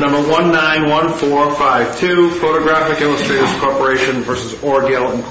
Number 191452, Photographic Illust'rs Corp. v. Orgill, Inc.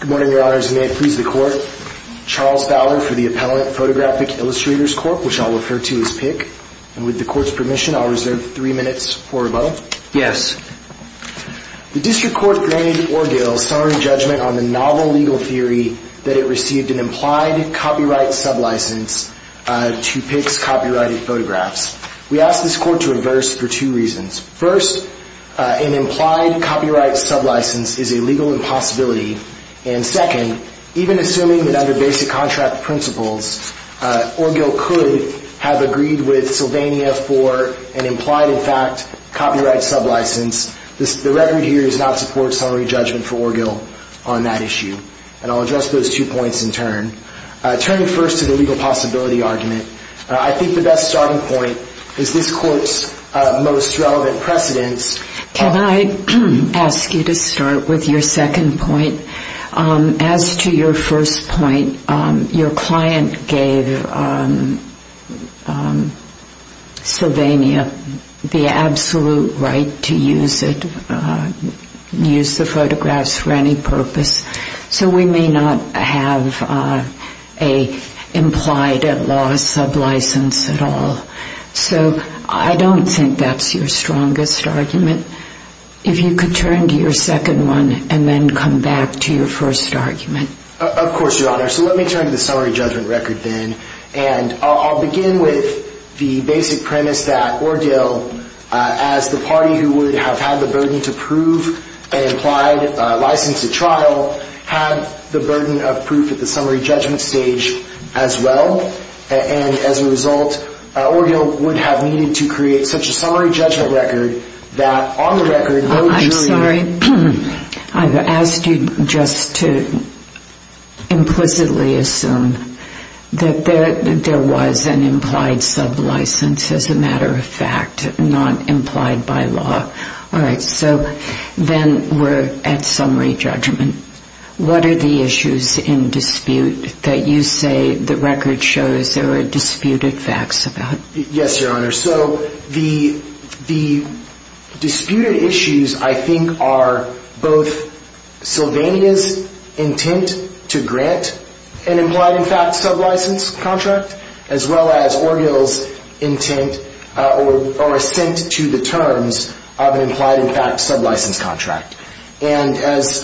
Good morning, Your Honors, and may it please the Court. Charles Fowler for the Appellant, Photographic Illust'rs Corp., which I'll refer to as PIC. And with the Court's permission, I'll reserve three minutes for rebuttal. Yes. The District Court, v. Orgill, saw in judgment on the novel legal theory that it received an implied copyright sub-license to PIC's copyrighted photographs. We ask this Court to reverse for two reasons. First, an implied copyright sub-license is a legal impossibility. And second, even assuming that under basic contract principles, Orgill could have agreed with Sylvania for an implied, in fact, copyright sub-license, the record here does not support summary judgment for Orgill on that issue. And I'll address those two points in turn. Turning first to the legal possibility argument, I think the best starting point is this Court's most relevant precedence. Can I ask you to start with your second point? As to your first point, your client gave Sylvania the absolute right to use it, use the photographs for any purpose. So we may not have an implied at-loss sub-license at all. So I don't think that's your strongest argument. If you could turn to your second one and then come back to your first argument. Of course, Your Honor. So let me turn to the summary judgment record then. And I'll begin with the basic premise that Orgill, as the party who would have had the burden to prove an implied license at trial, had the burden of proof at the summary judgment stage as well. And as a result, Orgill would have needed to create such a summary judgment record that on the record, I'm sorry, I've asked you just to implicitly assume that there was an implied sub-license. As a matter of fact, not implied by law. All right. So then we're at summary judgment. What are the issues in dispute that you say the record shows there were disputed facts about? Yes, Your Honor. So the disputed issues, I think, are both Sylvania's intent to grant an implied in fact sub-license contract as well as Orgill's intent or assent to the terms of an implied in fact sub-license contract. And as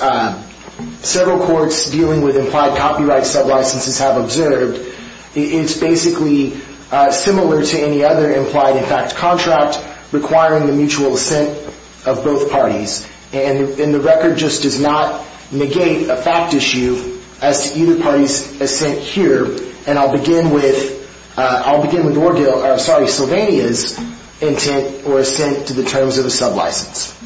several courts dealing with implied copyright sub-licenses have observed, it's basically similar to any other implied in fact contract requiring the mutual assent of both parties. And the record just does not negate a fact issue as to either party's assent here. And I'll begin with Sylvania's intent or assent to the terms of a sub-license.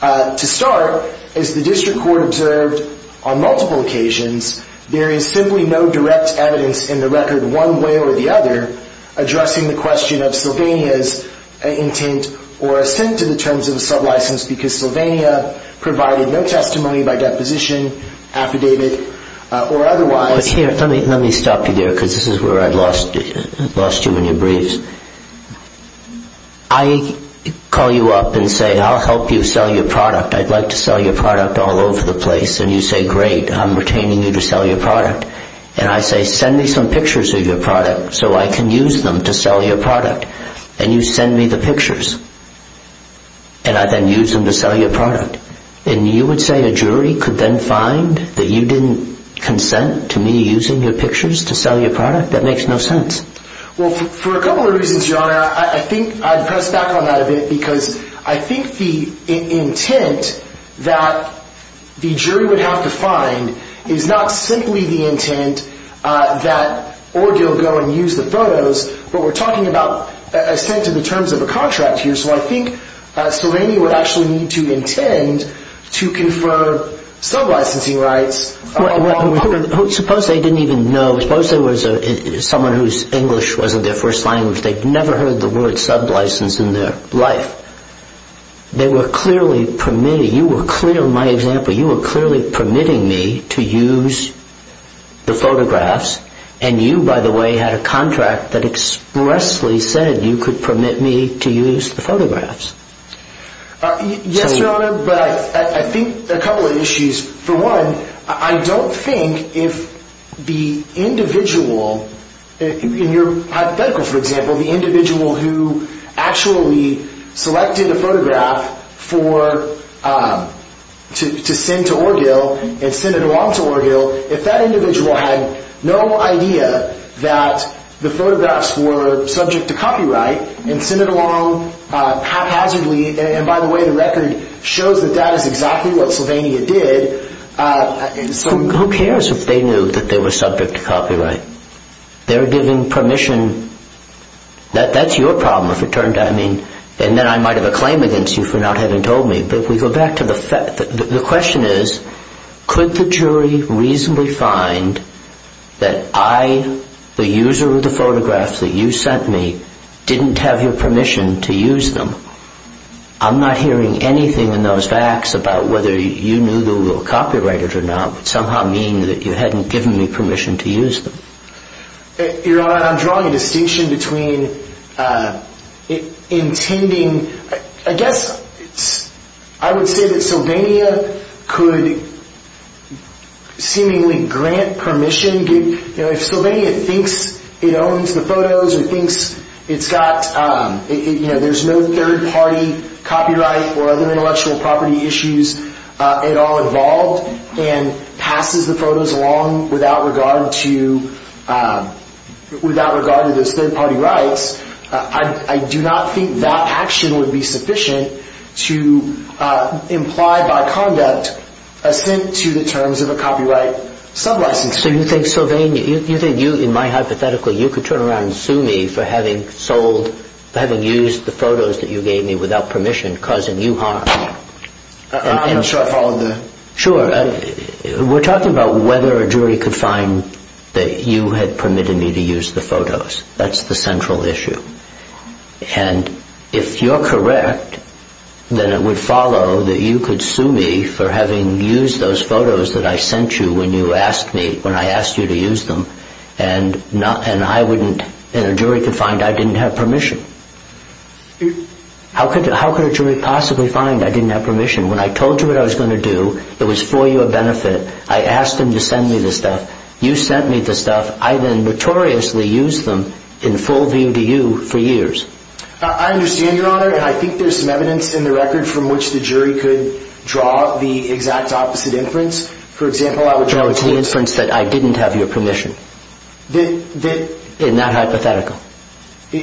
To start, as the district court observed on multiple occasions, there is simply no direct evidence in the record one way or the other addressing the question of Sylvania's intent or assent to the terms of a sub-license because Sylvania provided no testimony by deposition, affidavit, or otherwise. But here, let me stop you there because this is where I lost you in your briefs. I call you up and say, I'll help you sell your product. I'd like to sell your product all over the place. And you say, great, I'm retaining you to sell your product. And I say, send me some pictures of your product so I can use them to sell your product. And you send me the pictures. And I then use them to sell your product. And you would say a jury could then find that you didn't consent to me using your pictures to sell your product? That makes no sense. Well, for a couple of reasons, Your Honor. I think I'd press back on that a bit because I think the intent that the jury would have to find is not simply the intent that Orgill go and use the photos, but we're talking about assent to the terms of a contract here. So I think Serrani would actually need to intend to confer sub-licensing rights. Suppose they didn't even know. Suppose there was someone whose English wasn't their first language. They'd never heard the word sub-license in their life. They were clearly permitting, you were clearly, my example, you were clearly permitting me to use the photographs. And you, by the way, had a contract that expressly said you could permit me to use the photographs. Yes, Your Honor, but I think a couple of issues. For one, I don't think if the individual, in your hypothetical, for example, the individual who actually selected a photograph to send to Orgill and send it on to Orgill, if that individual had no idea that the photographs were subject to copyright and sent it along haphazardly, and by the way, the record shows that that is exactly what Sylvania did. Who cares if they knew that they were subject to copyright? They were given permission. That's your problem, if it turned out. And then I might have a claim against you for not having told me. The question is, could the jury reasonably find that I, the user of the photographs that you sent me, didn't have your permission to use them? I'm not hearing anything in those facts about whether you knew they were copyrighted or not, but somehow it would mean that you hadn't given me permission to use them. Your Honor, I'm drawing a distinction between intending, I guess I would say that Sylvania could seemingly grant permission. If Sylvania thinks it owns the photos or thinks it's got, you know, there's no third-party copyright or other intellectual property issues at all involved and passes the photos along without regard to those third-party rights, I do not think that action would be sufficient to imply by conduct assent to the terms of a copyright sub-license. So you think Sylvania, you think you, in my hypothetical, you could turn around and sue me for having sold, for having used the photos that you gave me without permission, causing you harm? I'm not sure I followed the... Sure. We're talking about whether a jury could find that you had permitted me to use the photos. That's the central issue. And if you're correct, then it would follow that you could sue me for having used those photos that I sent you when you asked me, when I asked you to use them, and I wouldn't, and a jury could find I didn't have permission. When I told you what I was going to do, it was for your benefit. I asked them to send me the stuff. You sent me the stuff. I then notoriously used them in full view to you for years. I understand, Your Honor, and I think there's some evidence in the record from which the jury could draw the exact opposite inference. For example, I would draw... So it's the inference that I didn't have your permission. In that hypothetical. You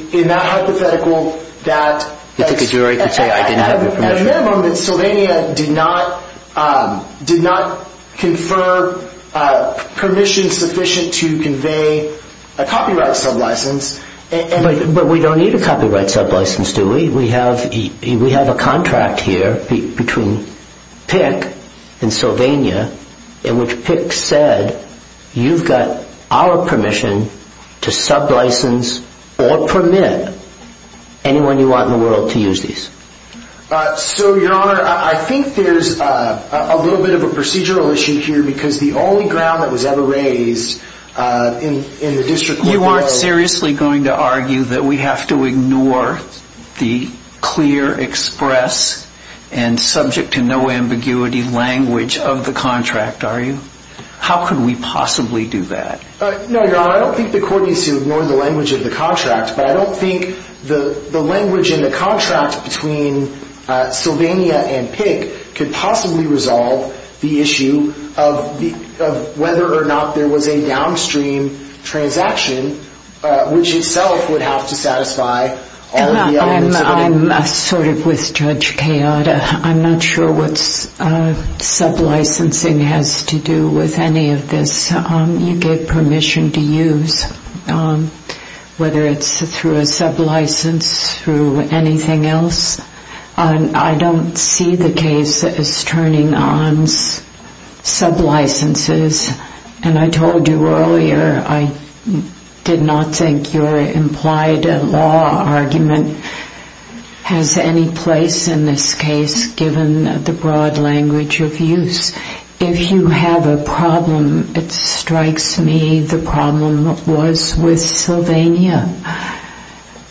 think a jury could say I didn't have your permission? At a minimum, Sylvania did not confer permission sufficient to convey a copyright sub-license. But we don't need a copyright sub-license, do we? We have a contract here between Pick and Sylvania, in which Pick said you've got our permission to sub-license or permit anyone you want in the world to use these. So, Your Honor, I think there's a little bit of a procedural issue here because the only ground that was ever raised in the district court... You aren't seriously going to argue that we have to ignore the clear, express, and subject to no ambiguity language of the contract, are you? How could we possibly do that? No, Your Honor, I don't think the court needs to ignore the language of the contract, but I don't think the language in the contract between Sylvania and Pick could possibly resolve the issue of whether or not there was a downstream transaction, which itself would have to satisfy all the elements of it. I'm sort of with Judge Kayada. I'm not sure what sub-licensing has to do with any of this. You get permission to use, whether it's through a sub-license, through anything else. I don't see the case as turning on sub-licenses, and I told you earlier I did not think your implied law argument has any place in this case, given the broad language of use. If you have a problem, it strikes me the problem was with Sylvania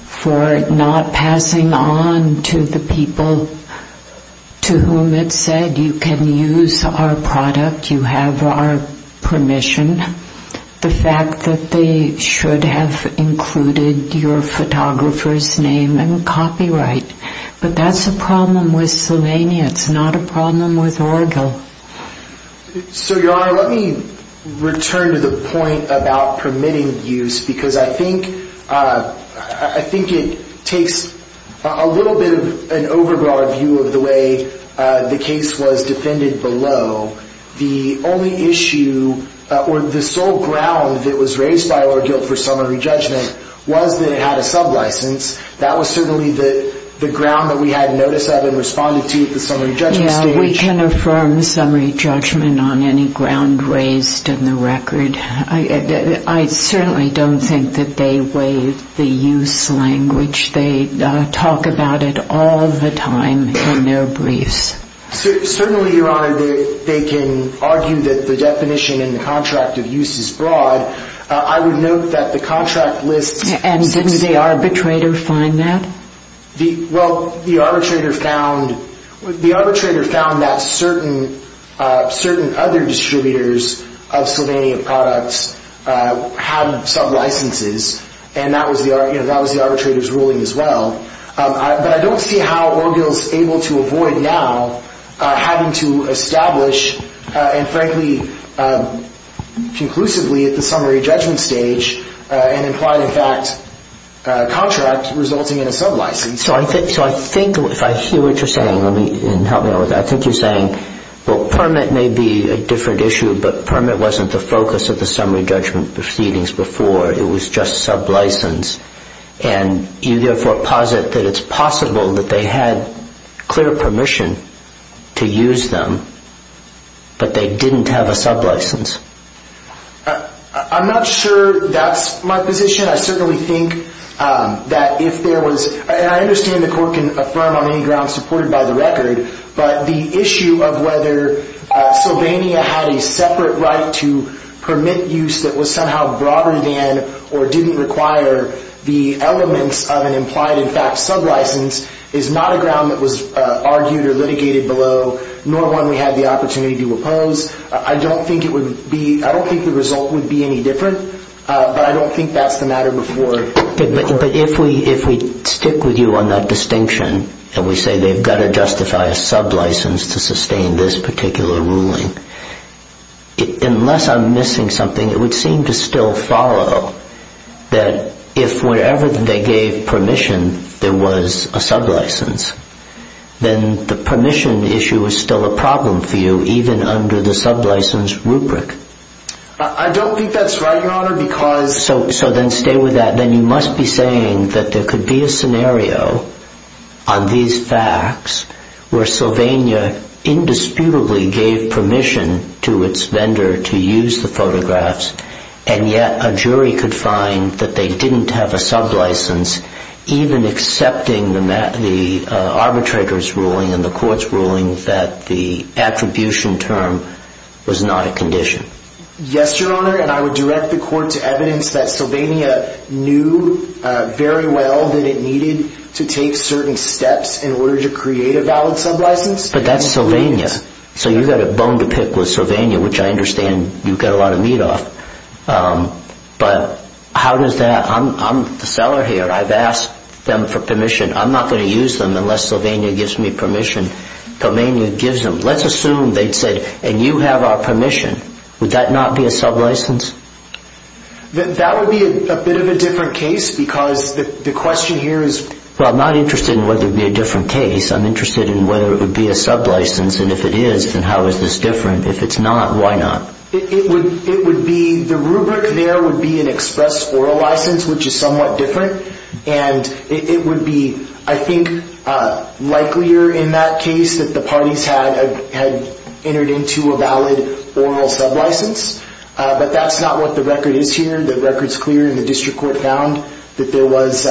for not passing on to the people to whom it said, you can use our product, you have our permission, the fact that they should have included your photographer's name and copyright. But that's a problem with Sylvania. It's not a problem with Orgil. So, Your Honor, let me return to the point about permitting use, because I think it takes a little bit of an overbroad view of the way the case was defended below. The only issue or the sole ground that was raised by Orgil for summary judgment was that it had a sub-license. That was certainly the ground that we had notice of and responded to at the summary judgment stage. Yeah, we can affirm summary judgment on any ground raised in the record. I certainly don't think that they waive the use language. They talk about it all the time in their briefs. Certainly, Your Honor, they can argue that the definition in the contract of use is broad. I would note that the contract lists... And didn't the arbitrator find that? Well, the arbitrator found that certain other distributors of Sylvania products had sub-licenses, and that was the arbitrator's ruling as well. But I don't see how Orgil is able to avoid now having to establish, and frankly conclusively at the summary judgment stage, an implied-in-fact contract resulting in a sub-license. So I think if I hear what you're saying, and help me out with that, I think you're saying, well, permit may be a different issue, but permit wasn't the focus of the summary judgment proceedings before. It was just sub-license. And you therefore posit that it's possible that they had clear permission to use them, but they didn't have a sub-license. I'm not sure that's my position. I certainly think that if there was... And I understand the court can affirm on any grounds supported by the record, but the issue of whether Sylvania had a separate right to permit use that was somehow broader than or didn't require the elements of an implied-in-fact sub-license is not a ground that was argued or litigated below, nor one we had the opportunity to oppose. I don't think the result would be any different, but I don't think that's the matter before. But if we stick with you on that distinction, and we say they've got to justify a sub-license to sustain this particular ruling, unless I'm missing something, it would seem to still follow that if wherever they gave permission there was a sub-license, then the permission issue is still a problem for you, even under the sub-license rubric. I don't think that's right, Your Honor, because... So then stay with that. Then you must be saying that there could be a scenario on these facts where Sylvania indisputably gave permission to its vendor to use the photographs, and yet a jury could find that they didn't have a sub-license, even accepting the arbitrator's ruling and the court's ruling that the attribution term was not a condition. Yes, Your Honor, and I would direct the court to evidence that Sylvania knew very well that it needed to take certain steps in order to create a valid sub-license. But that's Sylvania. So you've got a bone to pick with Sylvania, which I understand you get a lot of meat off. But how does that... I'm the seller here. I've asked them for permission. I'm not going to use them unless Sylvania gives me permission. Sylvania gives them. Let's assume they'd said, and you have our permission. Would that not be a sub-license? That would be a bit of a different case because the question here is... Well, I'm not interested in whether it would be a different case. I'm interested in whether it would be a sub-license. And if it is, then how is this different? If it's not, why not? The rubric there would be an express oral license, which is somewhat different. And it would be, I think, likelier in that case that the parties had entered into a valid oral sub-license. But that's not what the record is here. The record's clear, and the district court found that there was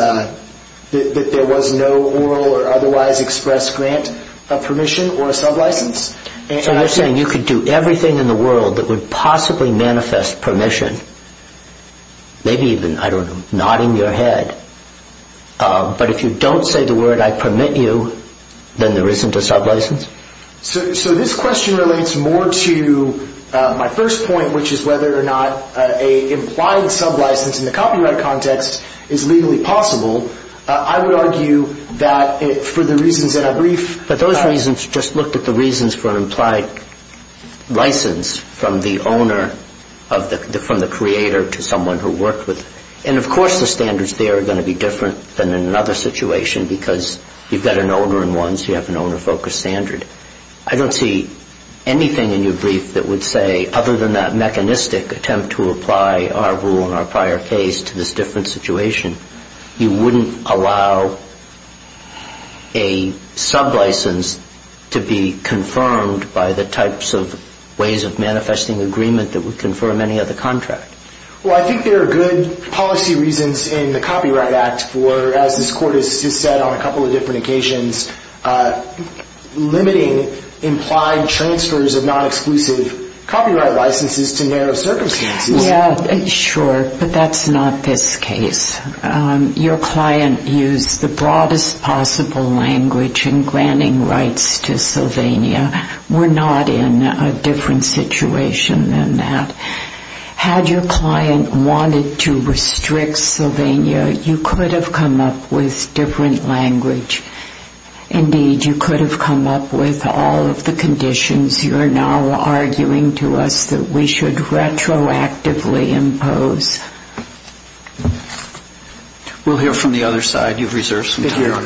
no oral or otherwise expressed grant of permission or a sub-license. So you're saying you could do everything in the world that would possibly manifest permission, maybe even, I don't know, nodding your head, but if you don't say the word, I permit you, then there isn't a sub-license? So this question relates more to my first point, which is whether or not an implied sub-license in the copyright context is legally possible. I would argue that for the reasons that I briefed... But those reasons just looked at the reasons for an implied license from the creator to someone who worked with them. And, of course, the standards there are going to be different than in another situation because you've got an owner-in-ones, you have an owner-focused standard. I don't see anything in your brief that would say, other than that mechanistic attempt to apply our rule in our prior case to this different situation, you wouldn't allow a sub-license to be confirmed by the types of ways of manifesting agreement that would confirm any other contract. Well, I think there are good policy reasons in the Copyright Act for, as this Court has just said on a couple of different occasions, limiting implied transfers of non-exclusive copyright licenses to narrow circumstances. Yeah, sure, but that's not this case. Your client used the broadest possible language in granting rights to Sylvania. We're not in a different situation than that. Had your client wanted to restrict Sylvania, you could have come up with different language. Indeed, you could have come up with all of the conditions you're now arguing to us that we should retroactively impose. We'll hear from the other side. You've reserved some time.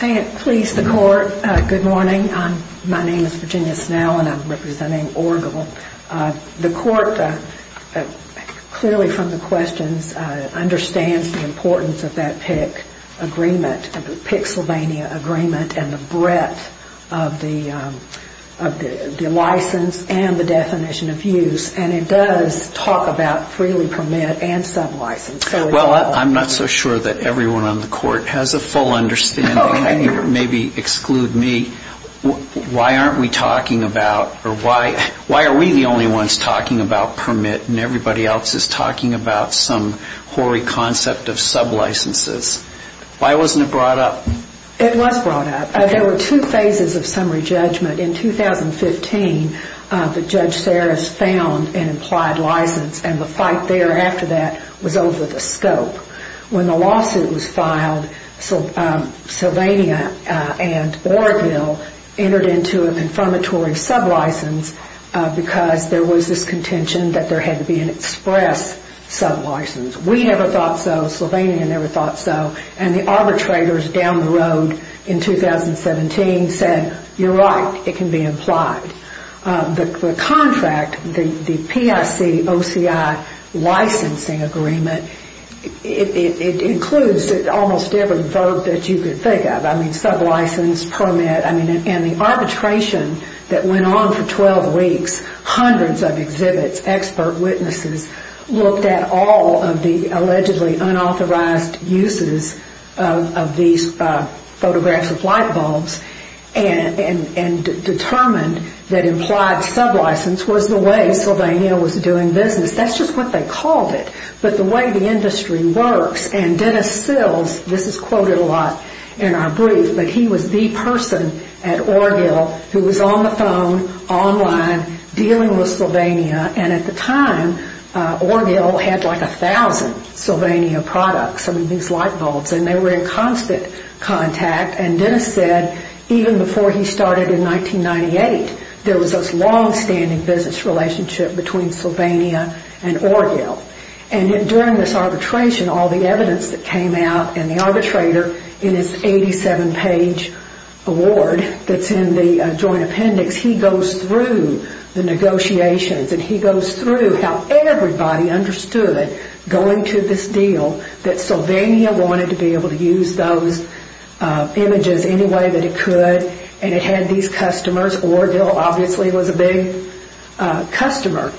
Thank you. Please, the Court, good morning. My name is Virginia Snell, and I'm representing Orgel. The Court clearly from the questions understands the importance of that PIC agreement, the PIC-Sylvania agreement, and the breadth of the license and the definition of use. And it does talk about freely permit and sub-license. Well, I'm not so sure that everyone on the Court has a full understanding. Maybe exclude me. Why aren't we talking about or why are we the only ones talking about permit and everybody else is talking about some hoary concept of sub-licenses? Why wasn't it brought up? It was brought up. There were two phases of summary judgment. In 2015, the Judge Saris found an implied license, and the fight thereafter that was over the scope. When the lawsuit was filed, Sylvania and Orgel entered into a confirmatory sub-license because there was this contention that there had to be an express sub-license. We never thought so. Sylvania never thought so. And the arbitrators down the road in 2017 said, you're right, it can be implied. The contract, the PIC-OCI licensing agreement, it includes almost every verb that you could think of. I mean, sub-license, permit. And the arbitration that went on for 12 weeks, hundreds of exhibits, expert witnesses, looked at all of the allegedly unauthorized uses of these photographs of light bulbs and determined that implied sub-license was the way Sylvania was doing business. That's just what they called it. But the way the industry works, and Dennis Sills, this is quoted a lot in our brief, but he was the person at Orgel who was on the phone, online, dealing with Sylvania. And at the time, Orgel had like 1,000 Sylvania products, some of these light bulbs, and they were in constant contact. And Dennis said, even before he started in 1998, there was this long-standing business relationship between Sylvania and Orgel. And during this arbitration, all the evidence that came out, and the arbitrator in his 87-page award that's in the joint appendix, he goes through the negotiations, and he goes through how everybody understood going to this deal that Sylvania wanted to be able to use those images any way that it could. And it had these customers. Orgel, obviously, was a big customer.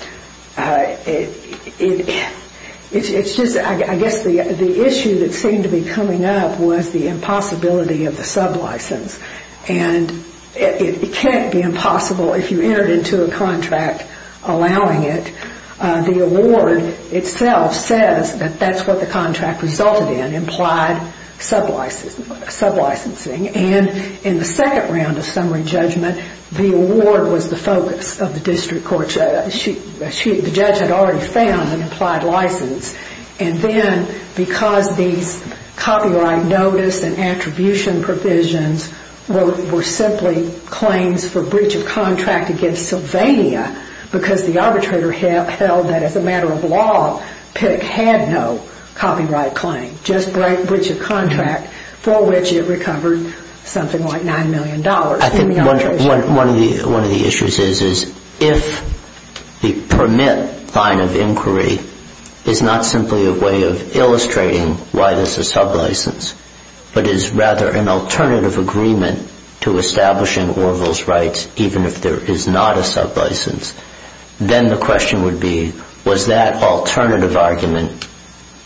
It's just, I guess, the issue that seemed to be coming up was the impossibility of the sub-license. And it can't be impossible if you entered into a contract allowing it. The award itself says that that's what the contract resulted in, implied sub-licensing. And in the second round of summary judgment, the award was the focus of the district court. The judge had already found an implied license. And then, because these copyright notice and attribution provisions were simply claims for breach of contract against Sylvania because the arbitrator held that, as a matter of law, Pick had no copyright claim, just breach of contract for which it recovered something like $9 million. I think one of the issues is if the permit line of inquiry is not simply a way of illustrating why there's a sub-license, but is rather an alternative agreement to establishing Orgel's rights even if there is not a sub-license, then the question would be, was that alternative argument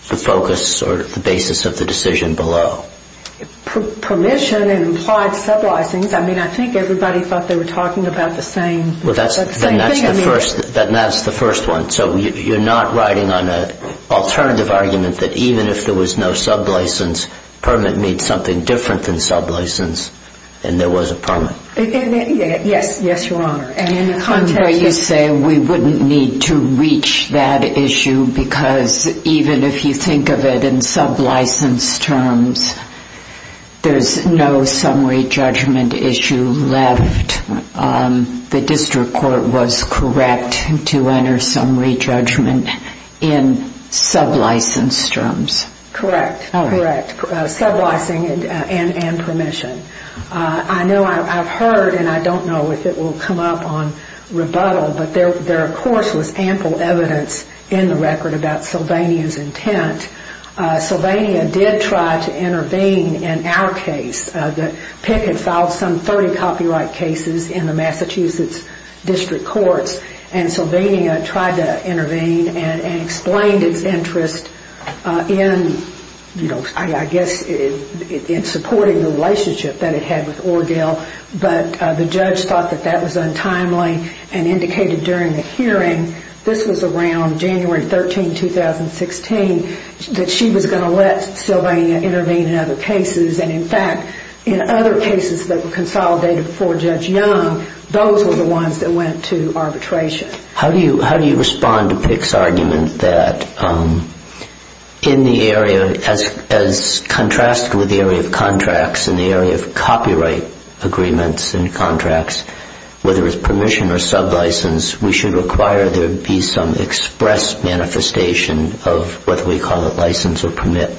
the focus or the basis of the decision below? Permission and implied sub-licensing, I mean, I think everybody thought they were talking about the same thing. Then that's the first one. So you're not riding on an alternative argument that even if there was no sub-license, permit means something different than sub-license and there was a permit. Yes, yes, Your Honor. And in the context... You say we wouldn't need to reach that issue because even if you think of it in sub-license terms, there's no summary judgment issue left. The district court was correct to enter summary judgment in sub-license terms. Correct, correct. Sub-licensing and permission. I know I've heard, and I don't know if it will come up on rebuttal, but there of course was ample evidence in the record about Sylvania's intent. Sylvania did try to intervene in our case. The PIC had filed some 30 copyright cases in the Massachusetts district courts and Sylvania tried to intervene and explained its interest in, you know, I guess in supporting the relationship that it had with Ordale, but the judge thought that that was untimely and indicated during the hearing, this was around January 13, 2016, that she was going to let Sylvania intervene in other cases and in fact in other cases that were consolidated before Judge Young, those were the ones that went to arbitration. How do you respond to PIC's argument that in the area, as contrasted with the area of contracts, in the area of copyright agreements and contracts, whether it's permission or sub-license, we should require there be some express manifestation of what we call a license or permit.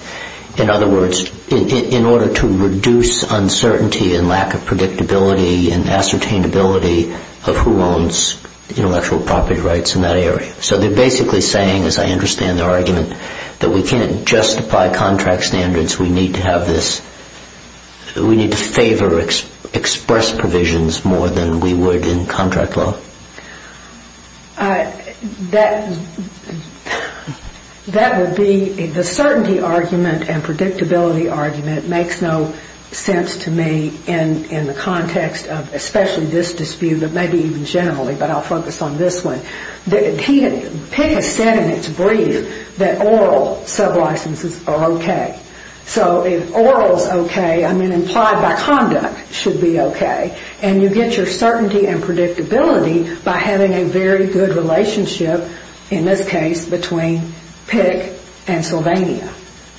In other words, in order to reduce uncertainty and lack of predictability and ascertainability of who owns intellectual property rights in that area. So they're basically saying, as I understand their argument, that we can't justify contract standards, we need to have this, we need to favor express provisions more than we would in contract law. That would be, the certainty argument and predictability argument makes no sense to me in the context of, especially this dispute, but maybe even generally, but I'll focus on this one. PIC has said in its brief that oral sub-licenses are okay. So if oral is okay, I mean implied by conduct should be okay. And you get your certainty and predictability by having a very good relationship, in this case, between PIC and Sylvania.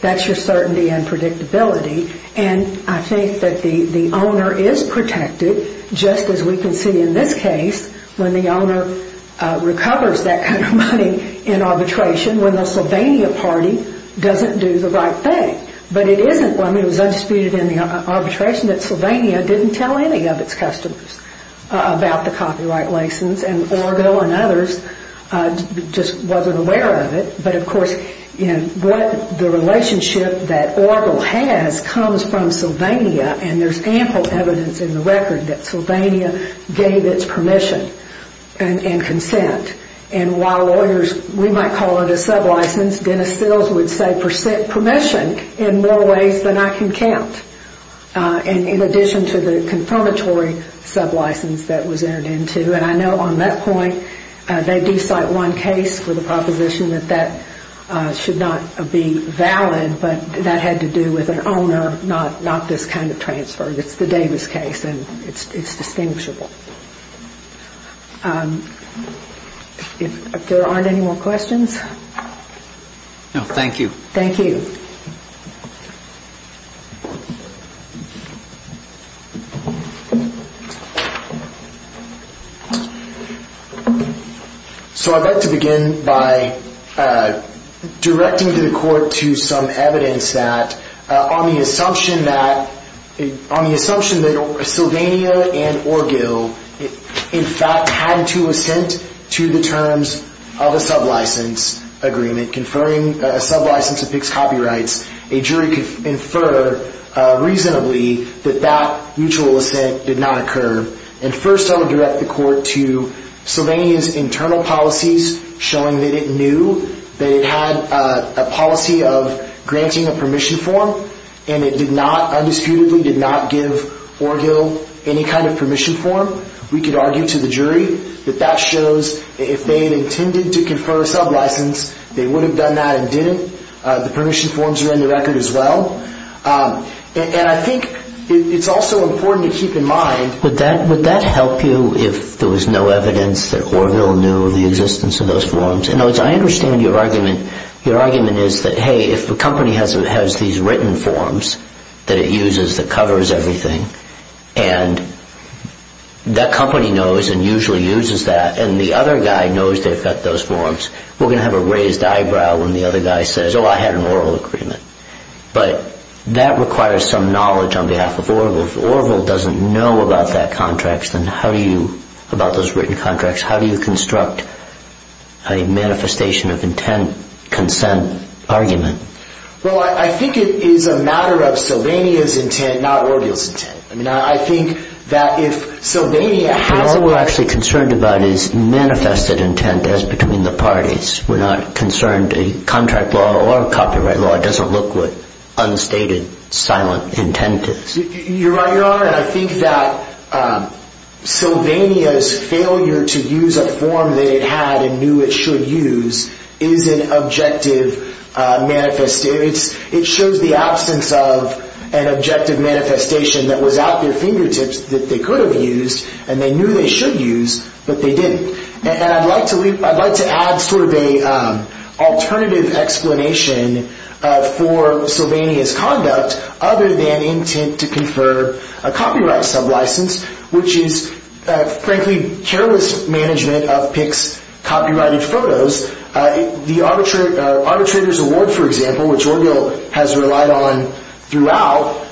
That's your certainty and predictability. And I think that the owner is protected, just as we can see in this case, when the owner recovers that kind of money in arbitration, when the Sylvania party doesn't do the right thing. But it isn't when it was undisputed in the arbitration that Sylvania didn't tell any of its customers about the copyright license, and Orville and others just wasn't aware of it. But of course, what the relationship that Orville has comes from Sylvania, and there's ample evidence in the record that Sylvania gave its permission and consent. And while lawyers, we might call it a sub-license, Dennis Stills would say, permission in more ways than I can count, in addition to the confirmatory sub-license that was entered into. And I know on that point, they do cite one case with a proposition that that should not be valid, but that had to do with an owner, not this kind of transfer. It's the Davis case, and it's distinguishable. If there aren't any more questions? No, thank you. Thank you. So I'd like to begin by directing to the court to some evidence that, on the assumption that Sylvania and Orville, in fact, had to assent to the terms of a sub-license agreement, conferring a sub-license that picks copyrights, a jury could infer reasonably that that mutual assent did not occur. And first, I would direct the court to Sylvania's internal policies showing that it knew that it had a policy of granting a permission form, and it did not, undisputedly, did not give Orville any kind of permission form. We could argue to the jury that that shows if they had intended to confer a sub-license, they would have done that and didn't. The permission forms are in the record as well. And I think it's also important to keep in mind would that help you if there was no evidence that Orville knew of the existence of those forms? In other words, I understand your argument. Your argument is that, hey, if a company has these written forms that it uses that covers everything, and that company knows and usually uses that, and the other guy knows they've got those forms, we're going to have a raised eyebrow when the other guy says, oh, I had an oral agreement. But that requires some knowledge on behalf of Orville. So if Orville doesn't know about that contract, then how do you, about those written contracts, how do you construct a manifestation-of-intent consent argument? Well, I think it is a matter of Sylvania's intent, not Orville's intent. I mean, I think that if Sylvania has a... But all we're actually concerned about is manifested intent as between the parties. We're not concerned. A contract law or a copyright law doesn't look with unstated, silent intent. You're right, Your Honor, and I think that Sylvania's failure to use a form that it had and knew it should use is an objective manifestation. It shows the absence of an objective manifestation that was at their fingertips that they could have used and they knew they should use, but they didn't. And I'd like to add sort of an alternative explanation for Sylvania's conduct other than intent to confer a copyright sublicense, which is, frankly, careless management of Pick's copyrighted photos. The Arbitrator's Award, for example, which Orville has relied on throughout,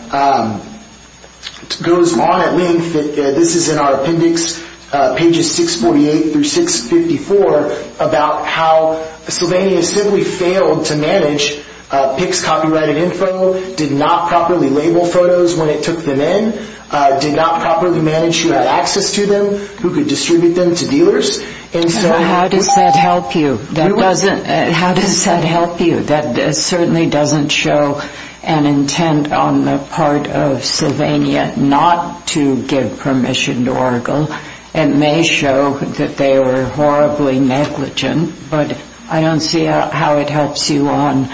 goes on at length. This is in our appendix, pages 648 through 654, about how Sylvania simply failed to manage Pick's copyrighted info, did not properly label photos when it took them in, did not properly manage who had access to them, who could distribute them to dealers. And so... How does that help you? That doesn't... How does that help you? on the part of Sylvania not to give permission to Orville. It may show that they were horribly negligent, but I don't see how it helps you on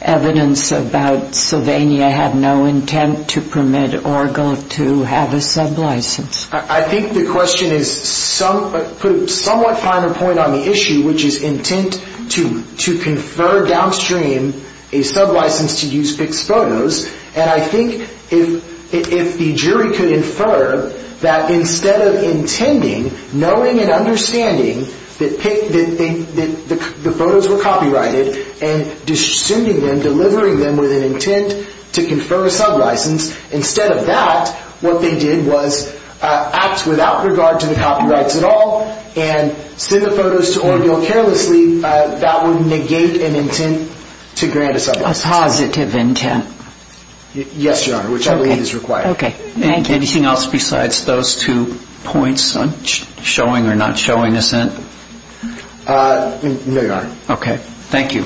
evidence about Sylvania had no intent to permit Orville to have a sublicense. I think the question is somewhat... Put a somewhat finer point on the issue, which is intent to confer downstream a sublicense to use Pick's photos. And I think if the jury could infer that instead of intending, knowing and understanding that the photos were copyrighted and distributing them, delivering them with an intent to confer a sublicense, instead of that, what they did was act without regard to the copyrights at all and send the photos to Orville carelessly, that would negate an intent to grant a sublicense. A positive intent. Yes, Your Honor, which I believe is required. Okay, thank you. Anything else besides those two points on showing or not showing assent? No, Your Honor. Okay, thank you.